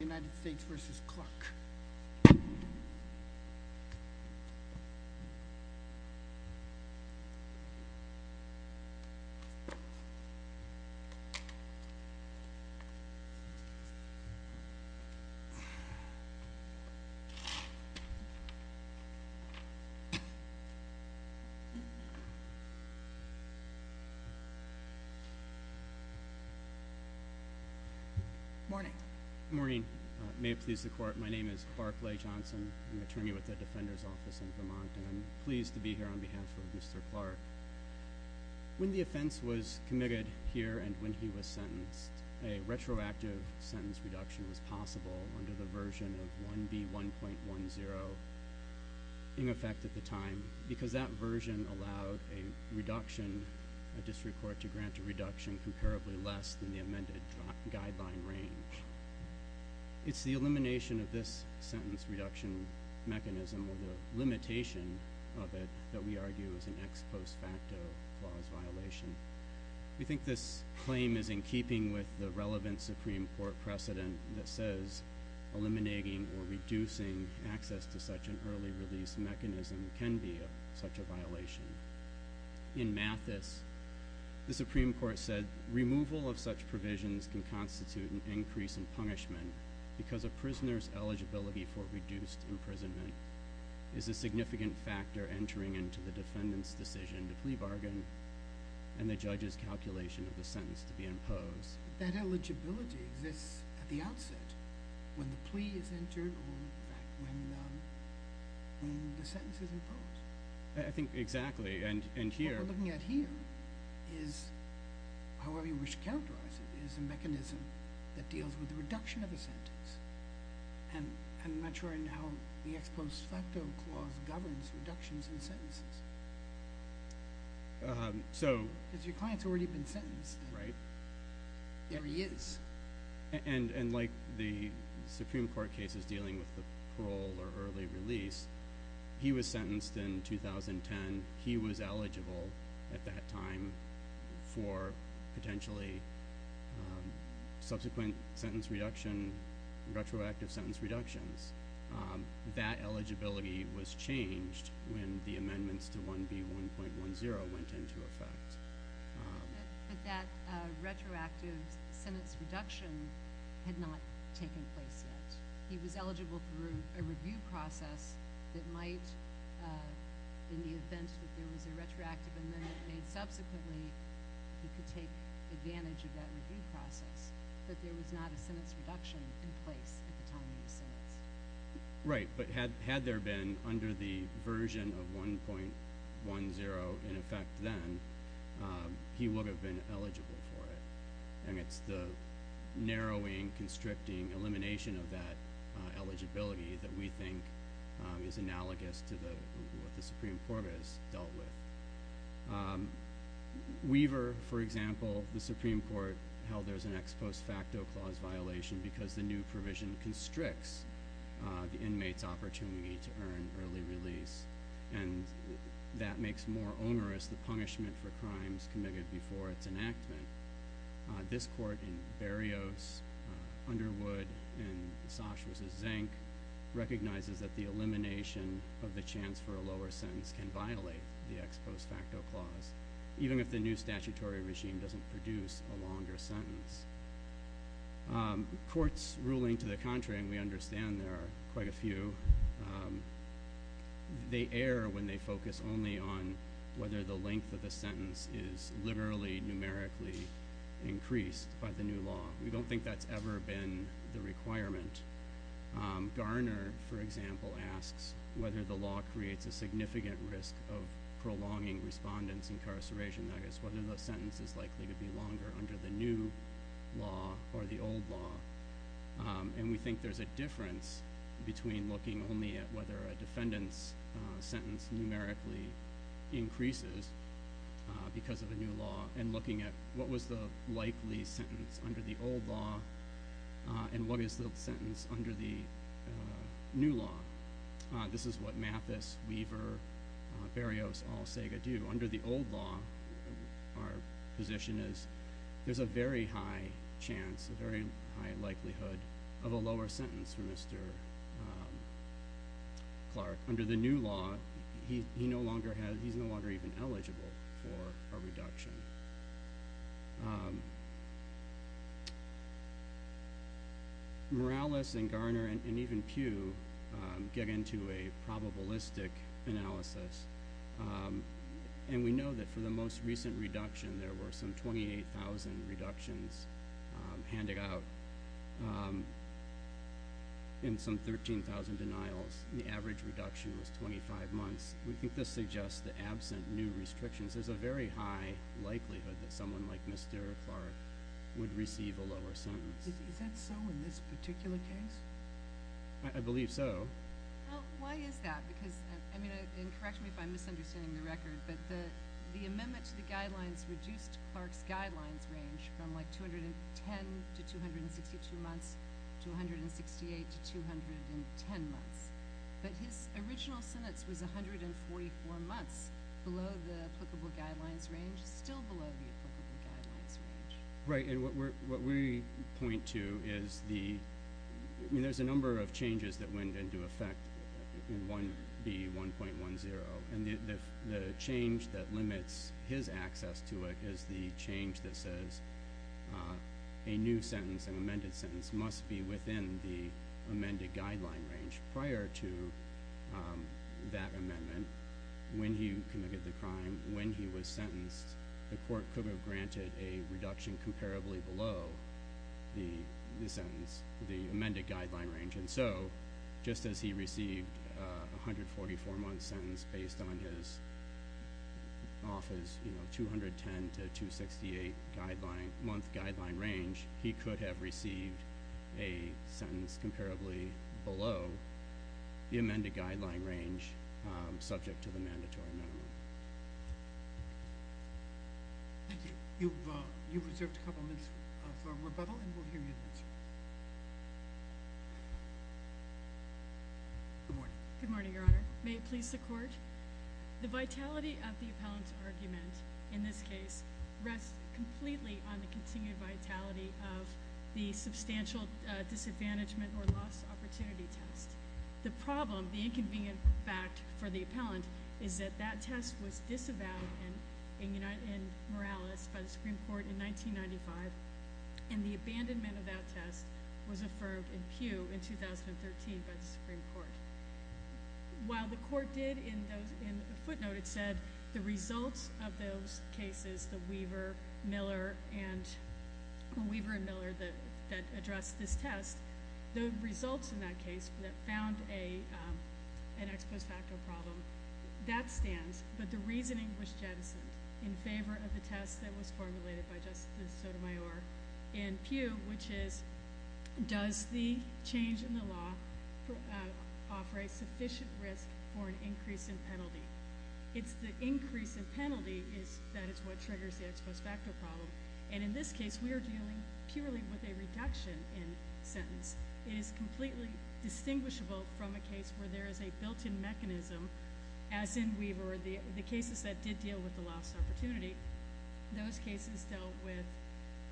United States v. Cluck. Morning. Morning. May it please the court. My name is Barclay Johnson. I'm an attorney with the Defender's Office in Vermont, and I'm pleased to be here on behalf of Mr. Clark. When the offense was committed here and when he was sentenced, a retroactive sentence reduction was possible under the version of 1B1.10 in effect at the time because that version allowed a reduction, a district court to grant a reduction comparably less than the amended guideline range. It's the elimination of this sentence reduction mechanism, or the limitation of it, that we argue is an ex post facto clause violation. We think this claim is in keeping with the relevant Supreme Court precedent that says eliminating or reducing access to such an early release mechanism can be such a violation. In Mathis, the Supreme Court said removal of such provisions can constitute an increase in punishment because a prisoner's eligibility for reduced imprisonment is a significant factor entering into the defendant's decision to plea bargain and the judge's calculation of the sentence to be imposed. That eligibility exists at the outset, when the plea is entered or when the sentence is imposed. I think exactly, and here— What we're looking at here is, however you wish to characterize it, is a mechanism that deals with the reduction of the sentence. And I'm not sure I know how the ex post facto clause governs reductions in sentences. Because your client's already been sentenced. Right. There he is. And like the Supreme Court cases dealing with the parole or early release, he was sentenced in 2010. He was eligible at that time for potentially subsequent sentence reduction, retroactive sentence reductions. That eligibility was changed when the amendments to 1B.1.10 went into effect. But that retroactive sentence reduction had not taken place yet. He was eligible through a review process that might, in the event that there was a retroactive amendment made subsequently, he could take advantage of that review process. But there was not a sentence reduction in place at the time of the sentence. Right, but had there been under the version of 1.10 in effect then, he would have been eligible for it. And it's the narrowing, constricting elimination of that eligibility that we think is analogous to what the Supreme Court has dealt with. Weaver, for example, the Supreme Court held there's an ex post facto clause violation because the new provision constricts the inmate's opportunity to earn early release. And that makes more onerous the punishment for crimes committed before its enactment. This court in Berrios, Underwood, and Sash vs. Zank recognizes that the elimination of the chance for a lower sentence can violate the ex post facto clause, even if the new statutory regime doesn't produce a longer sentence. Courts ruling to the contrary, and we understand there are quite a few, they err when they focus only on whether the length of the sentence is literally, numerically increased by the new law. We don't think that's ever been the requirement. Garner, for example, asks whether the law creates a significant risk of prolonging respondents' incarceration. That is, whether the sentence is likely to be longer under the new law or the old law. And we think there's a difference between looking only at whether a defendant's sentence numerically increases because of the new law and looking at what was the likely sentence under the old law and what is the sentence under the new law. This is what Mathis, Weaver, Berrios, all say they do. Under the old law, our position is there's a very high chance, a very high likelihood of a lower sentence for Mr. Clark. Under the new law, he's no longer even eligible for a reduction. Morales and Garner and even Pugh get into a probabilistic analysis. And we know that for the most recent reduction, there were some 28,000 reductions handed out. In some 13,000 denials, the average reduction was 25 months. We think this suggests that absent new restrictions, there's a very high likelihood that someone like Mr. Clark would receive a lower sentence. Is that so in this particular case? I believe so. Why is that? Because, and correct me if I'm misunderstanding the record, but the amendment to the guidelines reduced Clark's guidelines range from 210 to 262 months to 168 to 210 months. But his original sentence was 144 months below the applicable guidelines range, still below the applicable guidelines range. Right, and what we point to is the, I mean there's a number of changes that went into effect in 1B.1.10. And the change that limits his access to it is the change that says a new sentence, an amended sentence, must be within the amended guideline range. Prior to that amendment, when he committed the crime, when he was sentenced, the court could have granted a reduction comparably below the sentence, the amended guideline range. And so, just as he received a 144 month sentence based on his office, you know, 210 to 268 guideline, month guideline range, he could have received a sentence comparably below the amended guideline range subject to the mandatory minimum. Thank you. You've reserved a couple minutes for rebuttal and we'll hear you next. Good morning. Good morning, your honor. May it please the court. The vitality of the appellant's argument in this case rests completely on the continued vitality of the substantial disadvantagement or loss opportunity test. The problem, the inconvenient fact for the appellant is that that test was disavowed in Morales by the Supreme Court in 1995. And the abandonment of that test was affirmed in Peugh in 2013 by the Supreme Court. While the court did, in a footnote, it said the results of those cases, the Weaver and Miller that addressed this test, the results in that case that found an ex post facto problem, that stands. But the reasoning was jettisoned in favor of the test that was formulated by Justice Sotomayor in Peugh, which is, does the change in the law offer a sufficient risk for an increase in penalty? It's the increase in penalty that is what triggers the ex post facto problem. And in this case, we are dealing purely with a reduction in sentence. It is completely distinguishable from a case where there is a built-in mechanism, as in Weaver, the cases that did deal with the loss opportunity. Those cases dealt with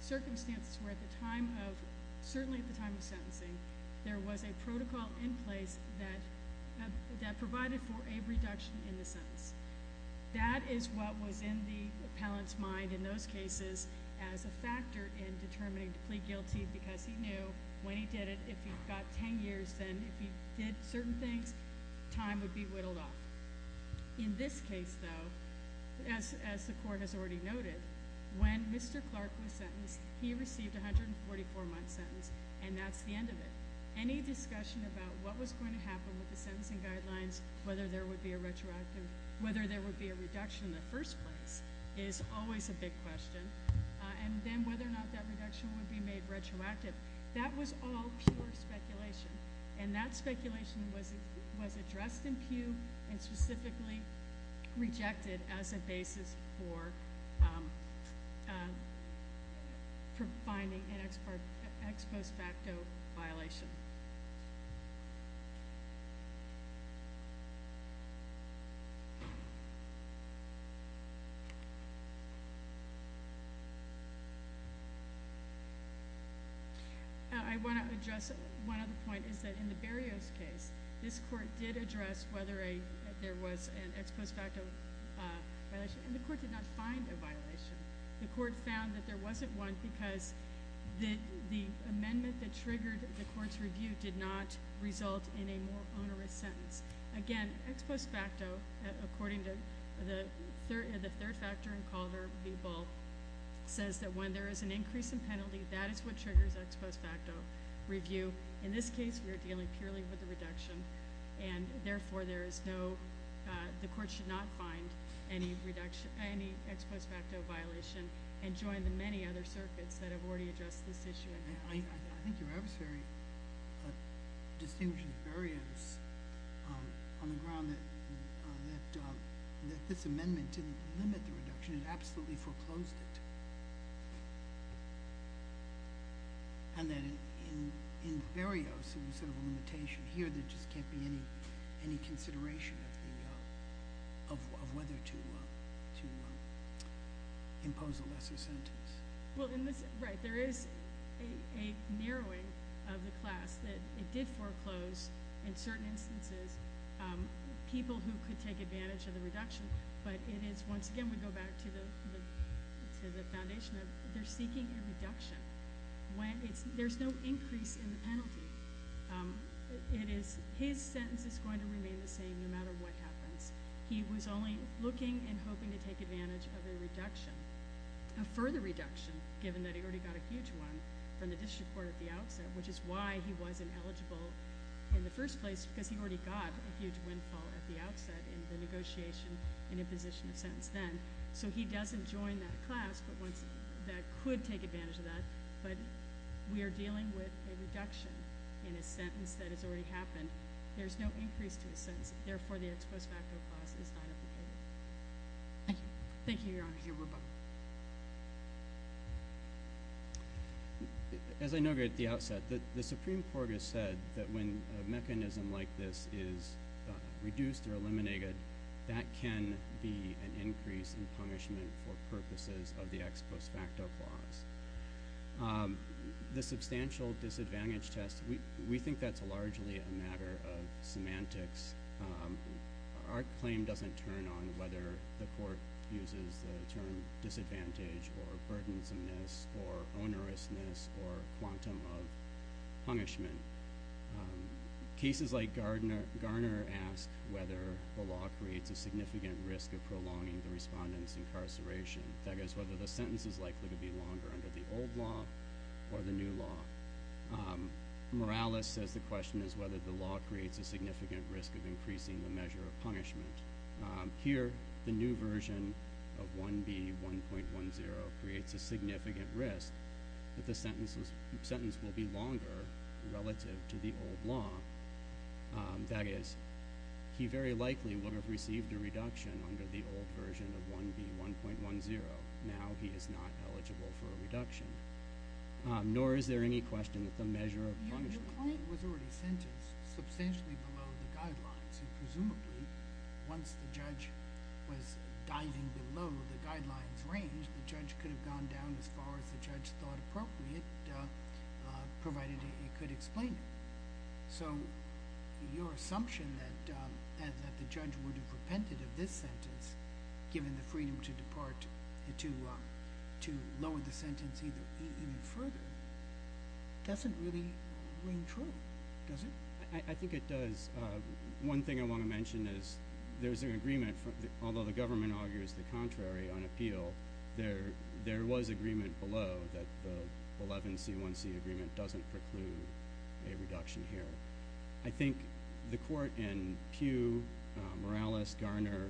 circumstances where at the time of, certainly at the time of sentencing, there was a protocol in place that provided for a reduction in the sentence. That is what was in the appellant's mind in those cases as a factor in determining to plead guilty, because he knew when he did it, if he got ten years, then if he did certain things, time would be whittled off. In this case, though, as the court has already noted, when Mr. Clark was sentenced, he received a 144-month sentence, and that's the end of it. Any discussion about what was going to happen with the sentencing guidelines, whether there would be a retroactive, whether there would be a reduction in the first place is always a big question. And then whether or not that reduction would be made retroactive, that was all pure speculation. And that speculation was addressed in Pew and specifically rejected as a basis for finding an ex post facto violation. I want to address one other point, is that in the Berrios case, this court did address whether there was an ex post facto violation, and the court did not find a violation. The court found that there wasn't one because the amendment that triggered the court's rejection did not result in a more onerous sentence. Again, ex post facto, according to the third factor in Calder v. Bull, says that when there is an increase in penalty, that is what triggers ex post facto review. In this case, we are dealing purely with the reduction, and therefore the court should not find any ex post facto violation and join the many other circuits that have already addressed this issue. I think your adversary distinguishes Berrios on the ground that this amendment didn't limit the reduction, it absolutely foreclosed it. And that in Berrios, there was sort of a limitation. Here, there just can't be any consideration of whether to impose a lesser sentence. Right, there is a narrowing of the class. It did foreclose, in certain instances, people who could take advantage of the reduction, but it is, once again, we go back to the foundation of they're seeking a reduction. There's no increase in the penalty. His sentence is going to remain the same no matter what happens. He was only looking and hoping to take advantage of a reduction. A further reduction, given that he already got a huge one from the district court at the outset, which is why he wasn't eligible in the first place, because he already got a huge windfall at the outset in the negotiation and imposition of sentence then. So he doesn't join that class that could take advantage of that, but we are dealing with a reduction in his sentence that has already happened. There's no increase to his sentence. Therefore, the ex post facto clause is not applicable. Thank you. Thank you, Your Honor. As I noted at the outset, the Supreme Court has said that when a mechanism like this is reduced or eliminated, that can be an increase in punishment for purposes of the ex post facto clause. The substantial disadvantage test, we think that's largely a matter of semantics. Our claim doesn't turn on whether the court uses the term disadvantage or burdensomeness or onerousness or quantum of punishment. Cases like Garner ask whether the law creates a significant risk of prolonging the respondent's incarceration. That is whether the sentence is likely to be longer under the old law or the new law. Morales says the question is whether the law creates a significant risk of increasing the measure of punishment. Here, the new version of 1B.1.10 creates a significant risk that the sentence will be longer relative to the old law. That is, he very likely would have received a reduction under the old version of 1B.1.10. Nor is there any question that the measure of punishment was already sentenced substantially below the guidelines. Presumably, once the judge was diving below the guidelines range, the judge could have gone down as far as the judge thought appropriate, provided he could explain it. So, your assumption that the judge would have repented of this sentence, given the freedom to lower the sentence even further, doesn't really ring true, does it? I think it does. One thing I want to mention is there's an agreement, although the government argues the contrary on appeal, there was agreement below that the 11C.1.C agreement doesn't preclude a reduction here. I think the court in Pugh, Morales, Garner,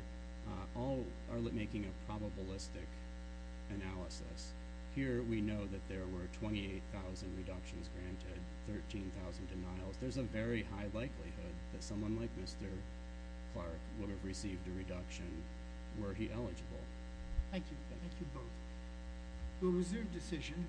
all are making a probabilistic analysis. Here, we know that there were 28,000 reductions granted, 13,000 denials. There's a very high likelihood that someone like Mr. Clark would have received a reduction were he eligible. Thank you. Thank you both. We'll reserve decision.